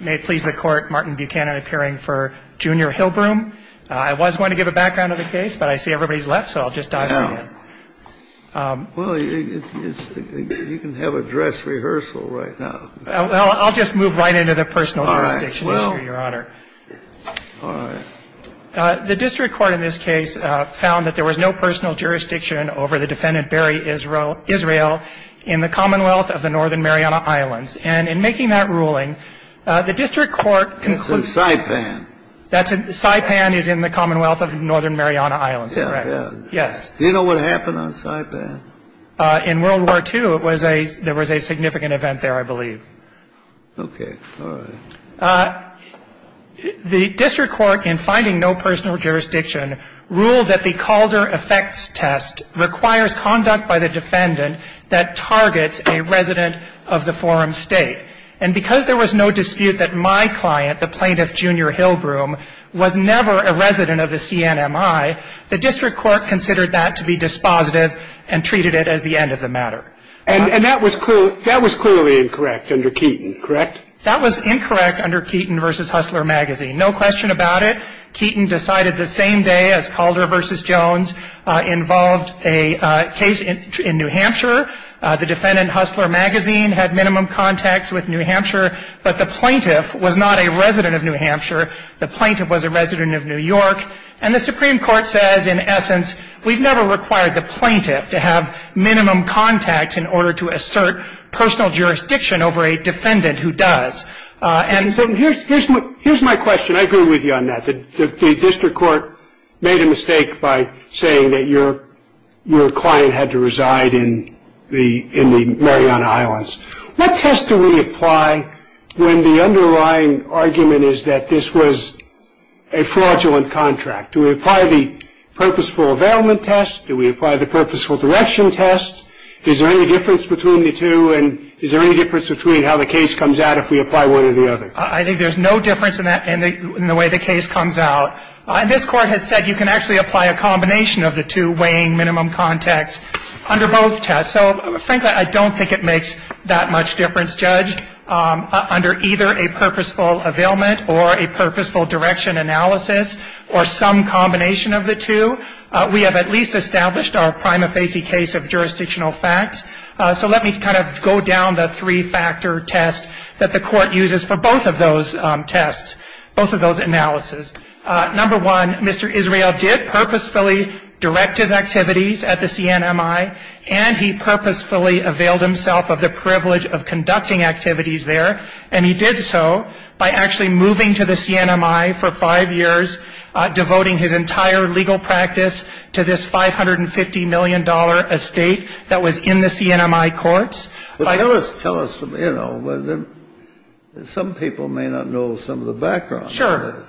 May it please the Court, Martin Buchanan appearing for Junior Hillbroom. I was going to give a background of the case, but I see everybody's left, so I'll just dive right in. Well, you can have a dress rehearsal right now. Well, I'll just move right into the personal jurisdiction issue, Your Honor. All right. The district court in this case found that there was no personal jurisdiction over the defendant Barry Israel in the Commonwealth of the Northern Mariana Islands. And in making that ruling, the district court concluded. It's in Saipan. Saipan is in the Commonwealth of the Northern Mariana Islands, correct? Yes. Do you know what happened on Saipan? In World War II, there was a significant event there, I believe. Okay. All right. The district court, in finding no personal jurisdiction, ruled that the Calder effects test requires conduct by the defendant that targets a resident of the forum state. And because there was no dispute that my client, the plaintiff Junior Hillbroom, was never a resident of the CNMI, the district court considered that to be dispositive and treated it as the end of the matter. And that was clearly incorrect under Keaton, correct? That was incorrect under Keaton v. Hustler Magazine. No question about it. Keaton decided the same day as Calder v. Jones involved a case in New Hampshire. The defendant, Hustler Magazine, had minimum contacts with New Hampshire. But the plaintiff was not a resident of New Hampshire. The plaintiff was a resident of New York. And the Supreme Court says, in essence, we've never required the plaintiff to have minimum contacts in order to assert personal jurisdiction over a defendant who does. And so here's my question. I agree with you on that. The district court made a mistake by saying that your client had to reside in the Mariana Islands. What test do we apply when the underlying argument is that this was a fraudulent contract? Do we apply the purposeful availment test? Do we apply the purposeful direction test? Is there any difference between the two? And is there any difference between how the case comes out if we apply one or the other? I think there's no difference in the way the case comes out. And this Court has said you can actually apply a combination of the two weighing minimum contacts under both tests. So, frankly, I don't think it makes that much difference, Judge, under either a purposeful availment or a purposeful direction analysis or some combination of the two. We have at least established our prima facie case of jurisdictional facts. So let me kind of go down the three-factor test that the Court uses for both of those tests, both of those analyses. Number one, Mr. Israel did purposefully direct his activities at the CNMI, and he purposefully availed himself of the privilege of conducting activities there. And he did so by actually moving to the CNMI for five years, devoting his entire legal practice to this $550 million estate that was in the CNMI courts. But tell us, you know, some people may not know some of the background. Sure.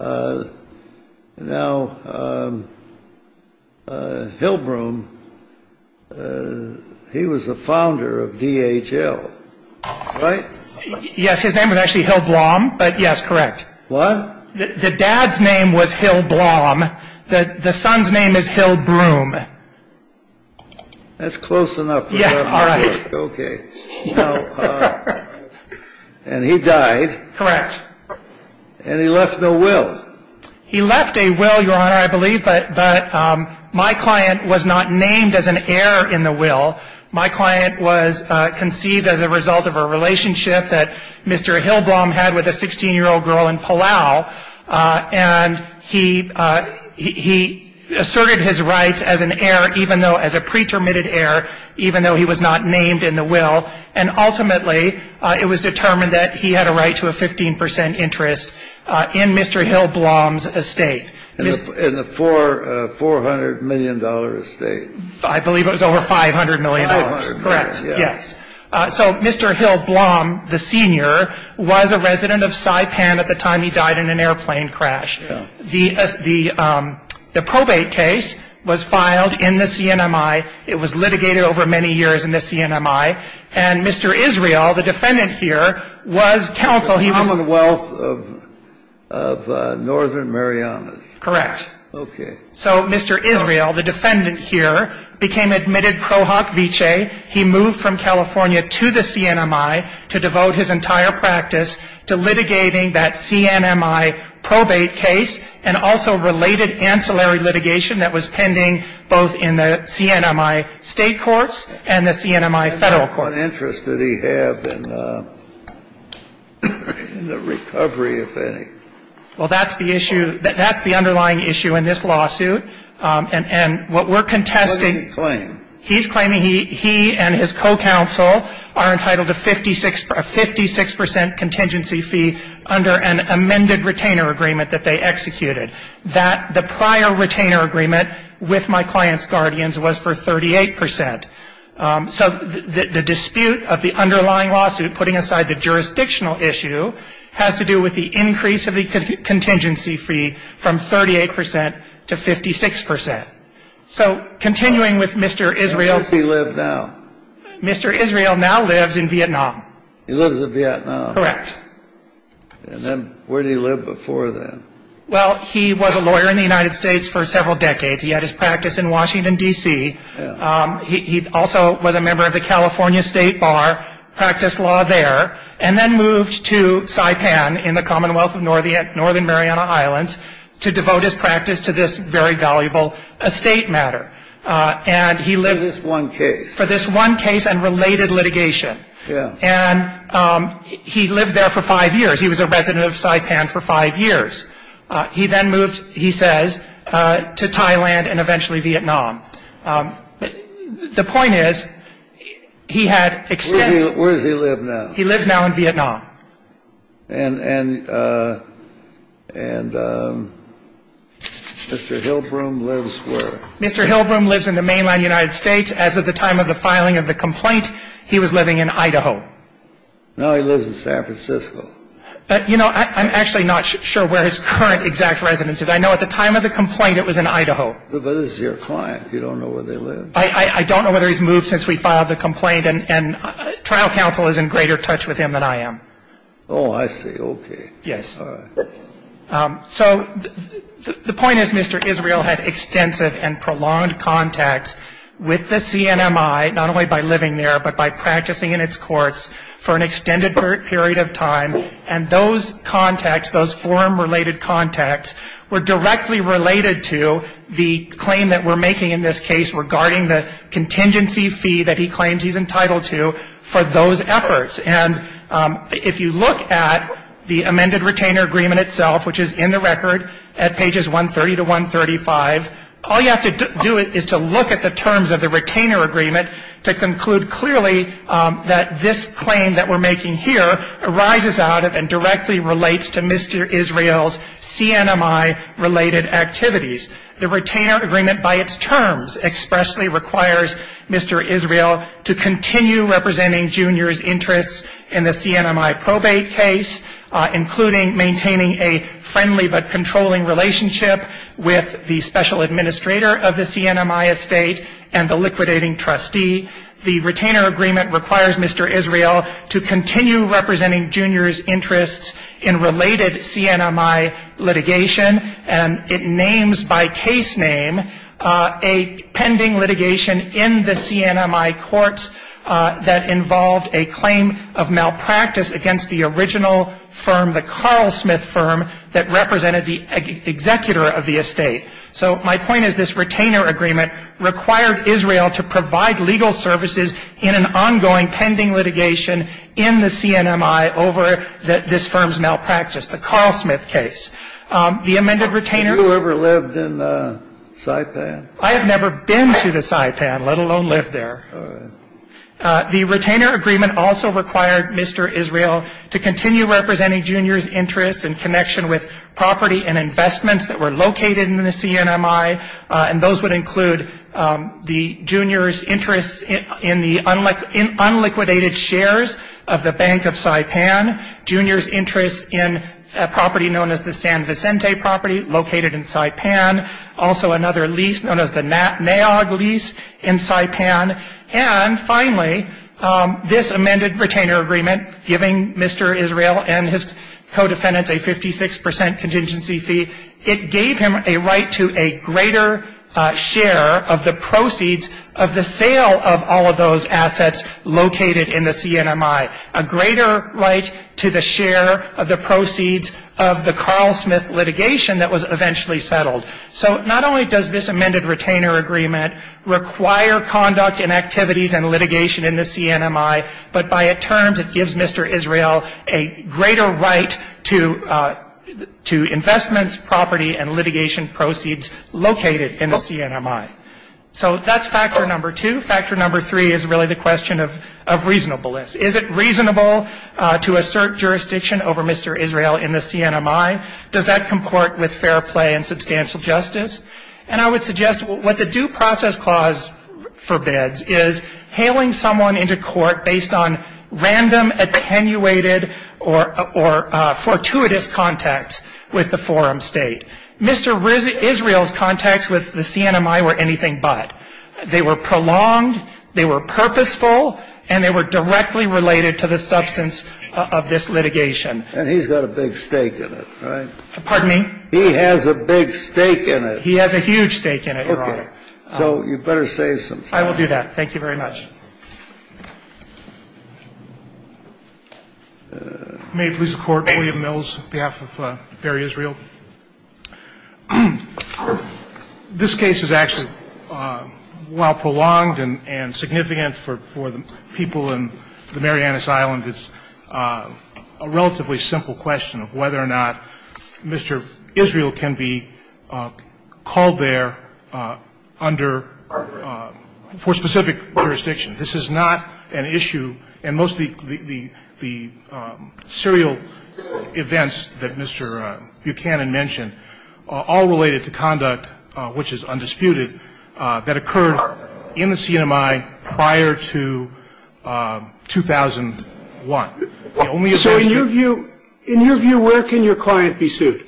Now, Hillbroom, he was the founder of DHL, right? Yes, his name was actually Hillblom, but, yes, correct. What? The dad's name was Hillblom. The son's name is Hillbroom. That's close enough. Yeah, all right. Okay. And he died. And he left no will. He left a will, Your Honor, I believe, but my client was not named as an heir in the will. My client was conceived as a result of a relationship that Mr. Hillblom had with a 16-year-old girl in Palau. And he asserted his rights as an heir, even though as a pretermitted heir, even though he was not named in the will. And ultimately, it was determined that he had a right to a 15 percent interest in Mr. Hillblom's estate. In the $400 million estate. I believe it was over $500 million. Correct. Yes. So Mr. Hillblom, the senior, was a resident of Saipan at the time he died in an airplane crash. The probate case was filed in the CNMI. It was litigated over many years in the CNMI. And Mr. Israel, the defendant here, was counsel. He was the Commonwealth of Northern Marianas. Correct. Okay. So Mr. Israel, the defendant here, became admitted pro hoc vicee. He moved from California to the CNMI to devote his entire practice to litigating that CNMI probate case and also related ancillary litigation that was pending both in the CNMI state courts and the CNMI federal courts. What interest did he have in the recovery, if any? Well, that's the issue. That's the underlying issue in this lawsuit. And what we're contesting — What did he claim? He's claiming he and his co-counsel are entitled to a 56 percent contingency fee under an amended retainer agreement that they executed, that the prior retainer agreement with my client's guardians was for 38 percent. So the dispute of the underlying lawsuit putting aside the jurisdictional issue has to do with the increase of the contingency fee from 38 percent to 56 percent. So continuing with Mr. Israel — Where does he live now? Mr. Israel now lives in Vietnam. He lives in Vietnam. Correct. And then where did he live before then? Well, he was a lawyer in the United States for several decades. He had his practice in Washington, D.C. He also was a member of the California State Bar, practiced law there, and then moved to Saipan in the Commonwealth of Northern Mariana Islands to devote his practice to this very valuable estate matter. And he lived — For this one case. For this one case and related litigation. And he lived there for five years. He was a resident of Saipan for five years. He then moved, he says, to Thailand and eventually Vietnam. The point is, he had extended — Where does he live now? He lives now in Vietnam. And Mr. Hillbrom lives where? Mr. Hillbrom lives in the mainland United States. As of the time of the filing of the complaint, he was living in Idaho. No, he lives in San Francisco. But, you know, I'm actually not sure where his current exact residence is. I know at the time of the complaint it was in Idaho. But this is your client. You don't know where they live? I don't know whether he's moved since we filed the complaint. And trial counsel is in greater touch with him than I am. Oh, I see. Okay. Yes. All right. So the point is, Mr. Israel had extensive and prolonged contacts with the CNMI, not only by living there, but by practicing in its courts for an extended period of time. And those contacts, those forum-related contacts, were directly related to the claim that we're making in this case regarding the contingency fee that he claims he's entitled to for those efforts. And if you look at the amended retainer agreement itself, which is in the record at pages 130 to 135, all you have to do is to look at the terms of the retainer agreement to conclude clearly that this claim that we're making here arises out of and directly relates to Mr. Israel's CNMI-related activities. The retainer agreement by its terms expressly requires Mr. Israel to continue representing Junior's interests in the CNMI probate case, including maintaining a friendly but controlling relationship with the special administrator of the CNMI estate and the liquidating trustee. The retainer agreement requires Mr. Israel to continue representing Junior's interests in related CNMI litigation, and it names by case name a pending litigation in the CNMI courts that involved a claim of malpractice against the original firm, the Carl Smith firm that represented the executor of the estate. So my point is this retainer agreement required Israel to provide legal services in an ongoing pending litigation in the CNMI over this firm's malpractice, the Carl Smith case. The amended retainer ---- You ever lived in Saipan? I have never been to the Saipan, let alone lived there. All right. The retainer agreement also required Mr. Israel to continue representing Junior's interests in connection with property and investments that were located in the CNMI, and those would include Junior's interest in the unliquidated shares of the Bank of Saipan, Junior's interest in a property known as the San Vicente property located in Saipan, also another lease known as the NAOG lease in Saipan, and finally, this amended retainer agreement giving Mr. Israel and his co-defendants a 56 percent contingency fee, it gave him a right to a greater share of the proceeds of the sale of all of those assets located in the CNMI, a greater right to the share of the proceeds of the Carl Smith litigation that was eventually settled. So not only does this amended retainer agreement require conduct in activities and litigation in the CNMI, but by a term that gives Mr. Israel a greater right to investments, property, and litigation proceeds located in the CNMI. So that's factor number two. Factor number three is really the question of reasonableness. Is it reasonable to assert jurisdiction over Mr. Israel in the CNMI? Does that comport with fair play and substantial justice? And I would suggest what the Due Process Clause forbids is hailing someone into court based on random, attenuated, or fortuitous contacts with the forum state. Mr. Israel's contacts with the CNMI were anything but. They were prolonged, they were purposeful, and they were directly related to the substance of this litigation. And he's got a big stake in it, right? Pardon me? He has a big stake in it. He has a huge stake in it, Your Honor. Okay. So you'd better save some time. I will do that. Thank you very much. May it please the Court, William Mills, on behalf of Barry Israel. This case is actually, while prolonged and significant for the people in the Marianas Island, it's a relatively simple question of whether or not Mr. Israel can be called there under for specific jurisdiction. This is not an issue. And most of the serial events that Mr. Buchanan mentioned are all related to conduct, which is undisputed, that occurred in the CNMI prior to 2001. The only events that you can think of. So in your view, where can your client be sued?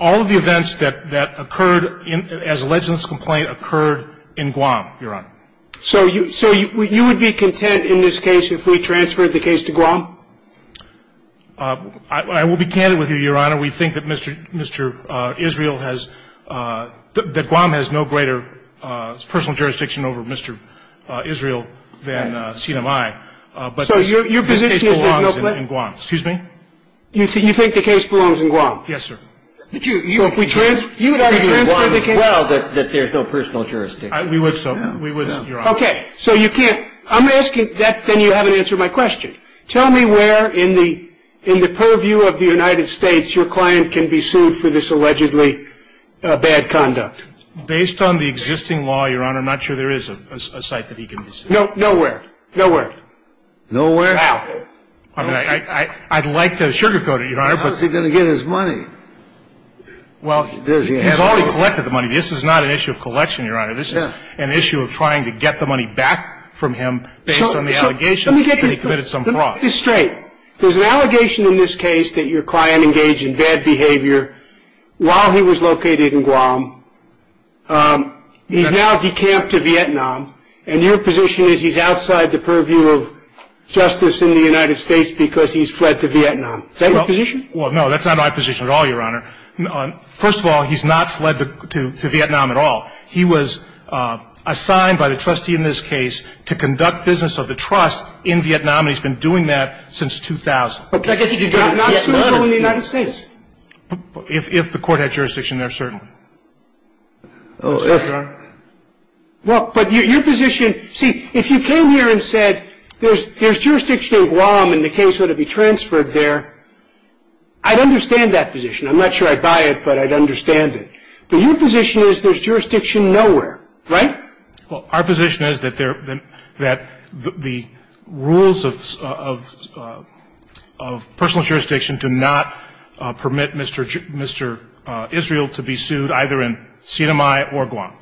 All of the events that occurred as alleged in this complaint occurred in Guam, Your Honor. So you would be content in this case if we transferred the case to Guam? I will be candid with you, Your Honor. We think that Mr. Israel has, that Guam has no greater personal jurisdiction over Mr. Israel than CNMI. But this case belongs in Guam. Excuse me? You think the case belongs in Guam? Yes, sir. You would argue in Guam as well that there's no personal jurisdiction? We would, sir. We would, Your Honor. Okay. So you can't, I'm asking, then you haven't answered my question. Tell me where in the purview of the United States your client can be sued for this allegedly bad conduct. Based on the existing law, Your Honor, I'm not sure there is a site that he can be sued. Nowhere. Nowhere. Nowhere? Now. I'd like to sugarcoat it, Your Honor. How is he going to get his money? Well, he's already collected the money. This is not an issue of collection, Your Honor. This is an issue of trying to get the money back from him based on the allegation that he committed some crime. This is straight. There's an allegation in this case that your client engaged in bad behavior while he was located in Guam. He's now decamped to Vietnam, and your position is he's outside the purview of justice in the United States because he's fled to Vietnam. Is that your position? Well, no, that's not my position at all, Your Honor. First of all, he's not fled to Vietnam at all. He was assigned by the trustee in this case to conduct business of the trust in Vietnam, and he's been doing that since 2000. But I guess he could get a letter. Not soon, but in the United States. If the court had jurisdiction there, certainly. Well, but your position – see, if you came here and said there's jurisdiction in Guam and the case ought to be transferred there, I'd understand that position. I'm not sure I'd buy it, but I'd understand it. But your position is there's jurisdiction nowhere, right? Well, our position is that the rules of personal jurisdiction do not permit Mr. Israel to be sued either in Sinai or Guam.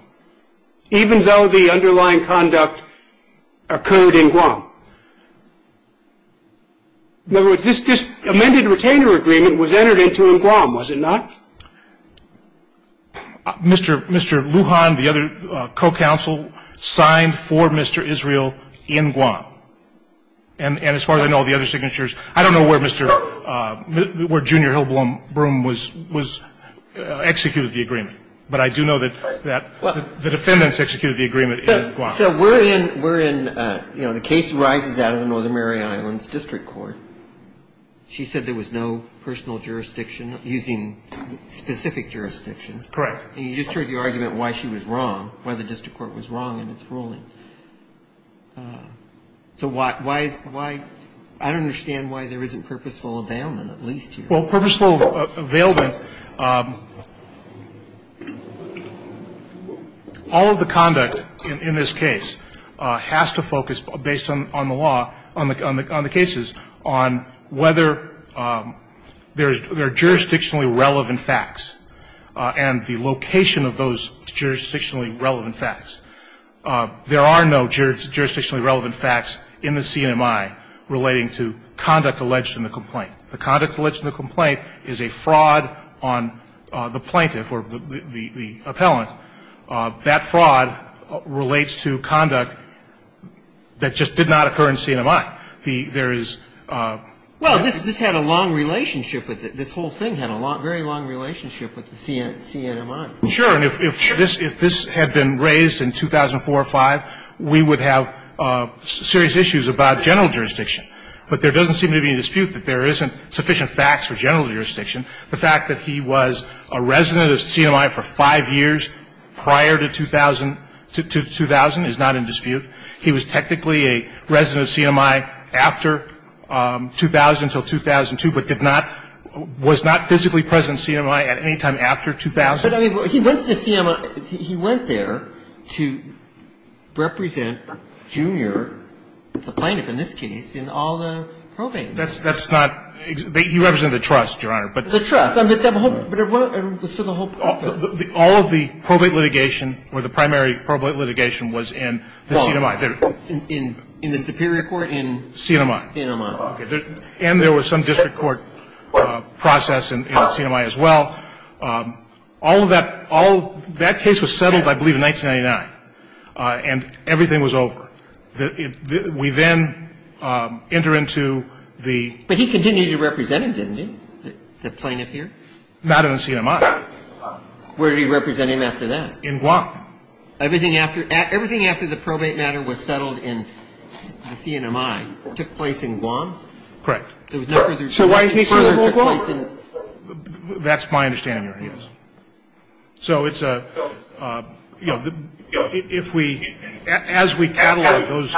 Even though the underlying conduct occurred in Guam? In other words, this amended retainer agreement was entered into in Guam, was it not? Mr. Lujan, the other co-counsel, signed for Mr. Israel in Guam. And as far as I know, the other signatures – I don't know where Mr. – where Junior Hillbloom was executed the agreement, but I do know that the defendants executed the agreement in Guam. So we're in – we're in, you know, the case rises out of the Northern Mariana Islands district court. She said there was no personal jurisdiction using specific jurisdiction. Correct. And you just heard the argument why she was wrong, why the district court was wrong in its ruling. So why is – why – I don't understand why there isn't purposeful availment, at least here. Well, purposeful availment, all of the conduct in this case has to focus, based on the law, on the cases, on whether there are jurisdictionally relevant facts and the location of those jurisdictionally relevant facts. There are no jurisdictionally relevant facts in the CNMI relating to conduct alleged in the complaint. The conduct alleged in the complaint is a fraud on the plaintiff or the appellant. That fraud relates to conduct that just did not occur in CNMI. There is – Well, this had a long relationship with it. This whole thing had a very long relationship with the CNMI. Sure. And if this had been raised in 2004 or 2005, we would have serious issues about general jurisdiction. But there doesn't seem to be any dispute that there isn't sufficient facts for general jurisdiction. The fact that he was a resident of CNMI for five years prior to 2000 is not in dispute. He was technically a resident of CNMI after 2000 until 2002, but did not – was not physically present at CNMI at any time after 2000. But I mean, he went to the CNMI – he went there to represent Junior, the plaintiff in this case, in all the probates. That's not – he represented the trust, Your Honor. The trust. But it was for the whole purpose. All of the probate litigation or the primary probate litigation was in the CNMI. In the superior court in CNMI. CNMI. And there was some district court process in CNMI as well. All of that – all – that case was settled, I believe, in 1999. And everything was over. We then enter into the – But he continued to represent him, didn't he, the plaintiff here? Not in CNMI. Where did he represent him after that? In Guam. Everything after – everything after the probate matter was settled in CNMI took place in Guam? Correct. There was no further – So why isn't he still in Guam? That's my understanding, Your Honor. So it's a – you know, if we – as we catalog those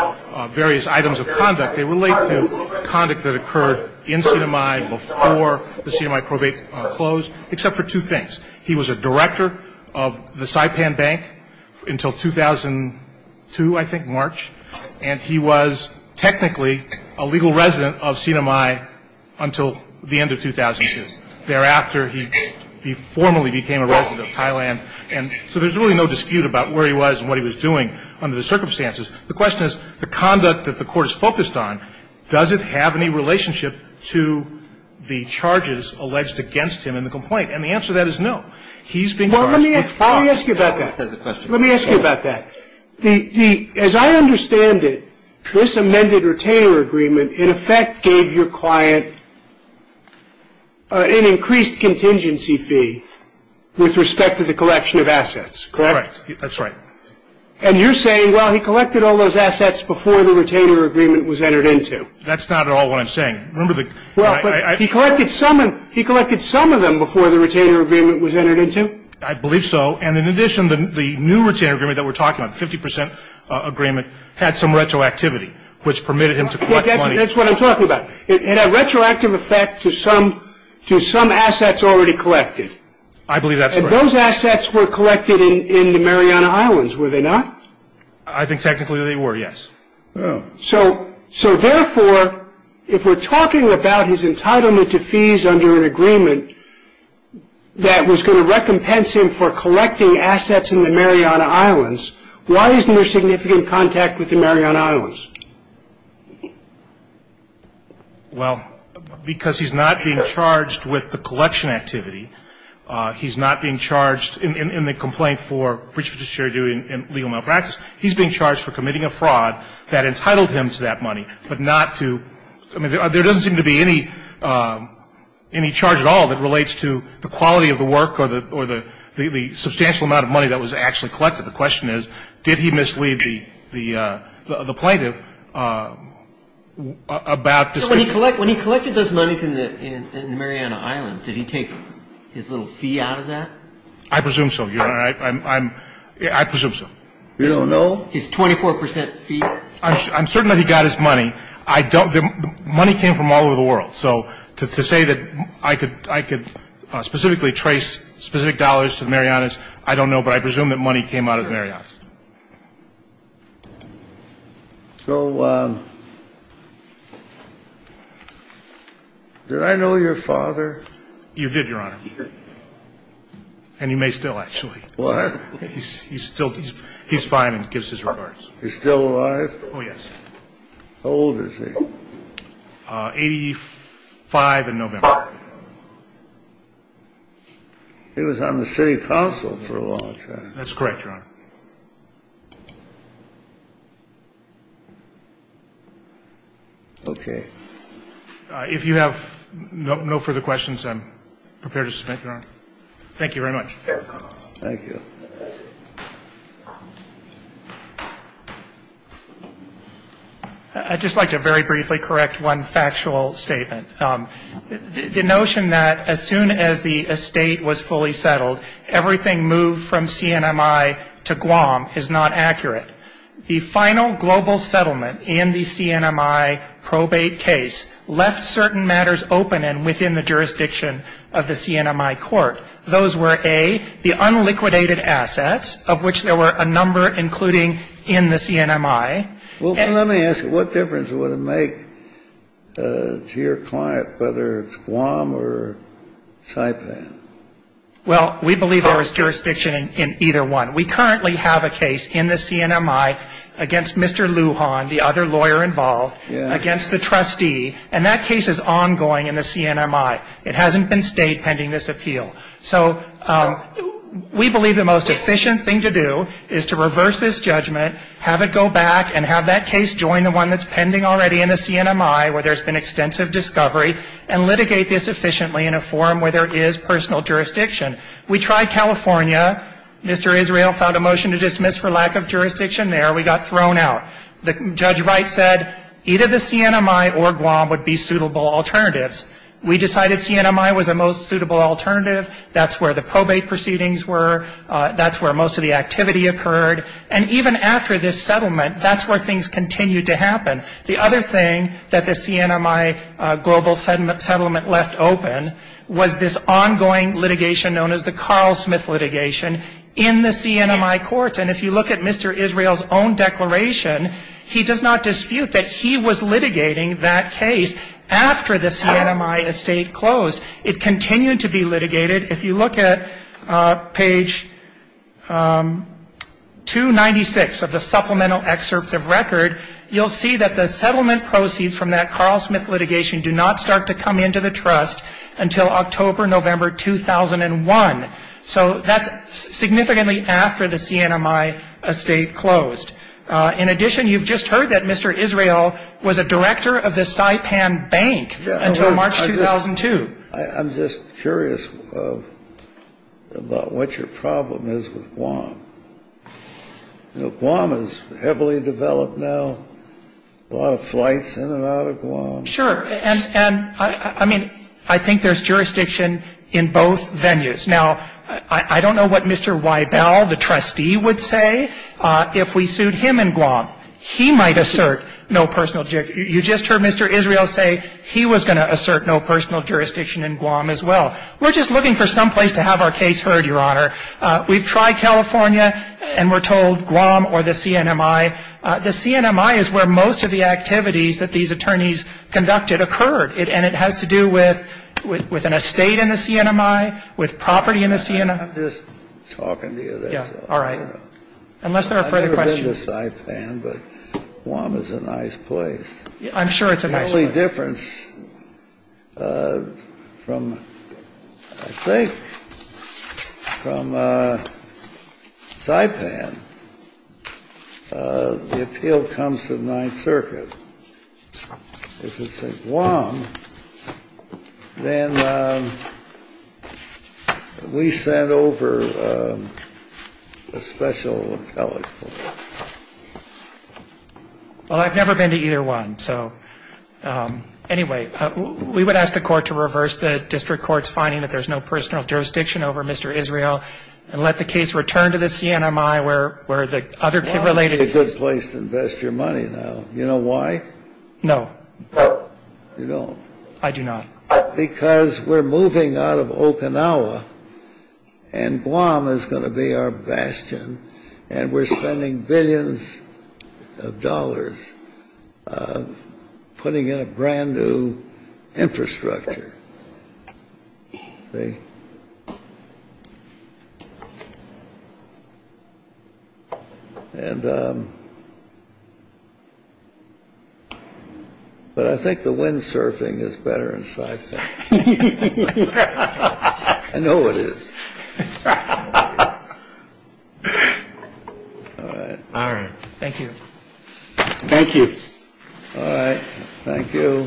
various items of conduct, they relate to conduct that occurred in CNMI before the CNMI probate closed, except for two things. He was a director of the Saipan Bank until 2002, I think, March. And he was technically a legal resident of CNMI until the end of 2002. Thereafter, he formally became a resident of Thailand. And so there's really no dispute about where he was and what he was doing under the circumstances. The question is, the conduct that the court is focused on, does it have any relationship to the charges alleged against him in the complaint? And the answer to that is no. He's been charged with fraud. Well, let me ask you about that. Let me ask you about that. As I understand it, this amended retainer agreement, in effect, gave your client an increased contingency fee with respect to the collection of assets, correct? Correct. That's right. And you're saying, well, he collected all those assets before the retainer agreement was entered into? That's not at all what I'm saying. Remember the – Well, but he collected some of them before the retainer agreement was entered into? I believe so. And in addition, the new retainer agreement that we're talking about, 50% agreement, had some retroactivity, which permitted him to collect money. That's what I'm talking about. It had a retroactive effect to some assets already collected. I believe that's correct. And those assets were collected in the Mariana Islands, were they not? I think technically they were, yes. Oh. So therefore, if we're talking about his entitlement to fees under an agreement that was going to recompense him for collecting assets in the Mariana Islands, why isn't there significant contact with the Mariana Islands? Well, because he's not being charged with the collection activity. He's not being charged in the complaint for breach of fiduciary duty and legal malpractice. He's being charged for committing a fraud that entitled him to that money, but not to – I mean, there doesn't seem to be any charge at all that relates to the quality of the work or the substantial amount of money that was actually collected. The question is, did he mislead the plaintiff about this? So when he collected those monies in the Mariana Islands, did he take his little fee out of that? I presume so, Your Honor. I presume so. You don't know? His 24% fee? I'm certain that he got his money. I don't – the money came from all over the world. So to say that I could specifically trace specific dollars to the Marianas, I don't know, but I presume that money came out of the Marianas. So did I know your father? You did, Your Honor. And you may still, actually. What? He's still – he's fine and gives his regards. He's still alive? Oh, yes. How old is he? Eighty-five in November. He was on the city council for a long time. That's correct, Your Honor. Okay. If you have no further questions, I'm prepared to submit, Your Honor. Thank you very much. Thank you. I'd just like to very briefly correct one factual statement. The notion that as soon as the estate was fully settled, everything moved from CNMI to Guam is not accurate. The final global settlement in the CNMI probate case left certain matters open and within the jurisdiction of the CNMI court. Those were, A, the unliquidated assets, of which there were a number including in the CNMI. Well, let me ask you, what difference would it make to your client, whether it's Guam or Saipan? Well, we believe there was jurisdiction in either one. We currently have a case in the CNMI against Mr. Lujan, the other lawyer involved, against the trustee, and that case is ongoing in the CNMI. It hasn't been stayed pending this appeal. So we believe the most efficient thing to do is to reverse this judgment, have it go back, and have that case join the one that's pending already in the CNMI where there's been extensive discovery, and litigate this efficiently in a forum where there is personal jurisdiction. We tried California. Mr. Israel found a motion to dismiss for lack of jurisdiction there. We got thrown out. Judge Wright said either the CNMI or Guam would be suitable alternatives. We decided CNMI was the most suitable alternative. That's where the probate proceedings were. That's where most of the activity occurred. And even after this settlement, that's where things continued to happen. The other thing that the CNMI global settlement left open was this ongoing litigation known as the Carl Smith litigation in the CNMI courts, and if you look at Mr. Israel's own declaration, he does not dispute that he was litigating that case after the CNMI estate closed. It continued to be litigated. If you look at page 296 of the supplemental excerpts of record, you'll see that the settlement proceeds from that Carl Smith litigation do not start to come into the trust until October, November 2001. So that's significantly after the CNMI estate closed. In addition, you've just heard that Mr. Israel was a director of the Saipan Bank until March 2002. I'm just curious about what your problem is with Guam. Guam is heavily developed now, a lot of flights in and out of Guam. Sure. And I mean, I think there's jurisdiction in both venues. Now, I don't know what Mr. Weibel, the trustee, would say if we sued him in Guam. He might assert no personal jurisdiction. You just heard Mr. Israel say he was going to assert no personal jurisdiction in Guam as well. We're just looking for some place to have our case heard, Your Honor. We've tried California, and we're told Guam or the CNMI. The CNMI is where most of the activities that these attorneys conducted occurred, and it has to do with an estate in the CNMI, with property in the CNMI. I'm just talking to you there. Yeah. All right. Unless there are further questions. I've never been to Saipan, but Guam is a nice place. I'm sure it's a nice place. The only difference from, I think, from Saipan, the appeal comes to the Ninth Circuit. If it's in Guam, then we send over a special appellate court. Well, I've never been to either one. So anyway, we would ask the court to reverse the district court's finding that there's no personal jurisdiction over Mr. Israel and let the case return to the CNMI where the other related cases. Guam would be a good place to invest your money now. You know why? No. You don't? I do not. Because we're moving out of Okinawa, and Guam is going to be our bastion, and we're spending billions of dollars putting in a brand-new infrastructure. But I think the windsurfing is better in Saipan. I know it is. All right. Thank you. Thank you. All right. Thank you.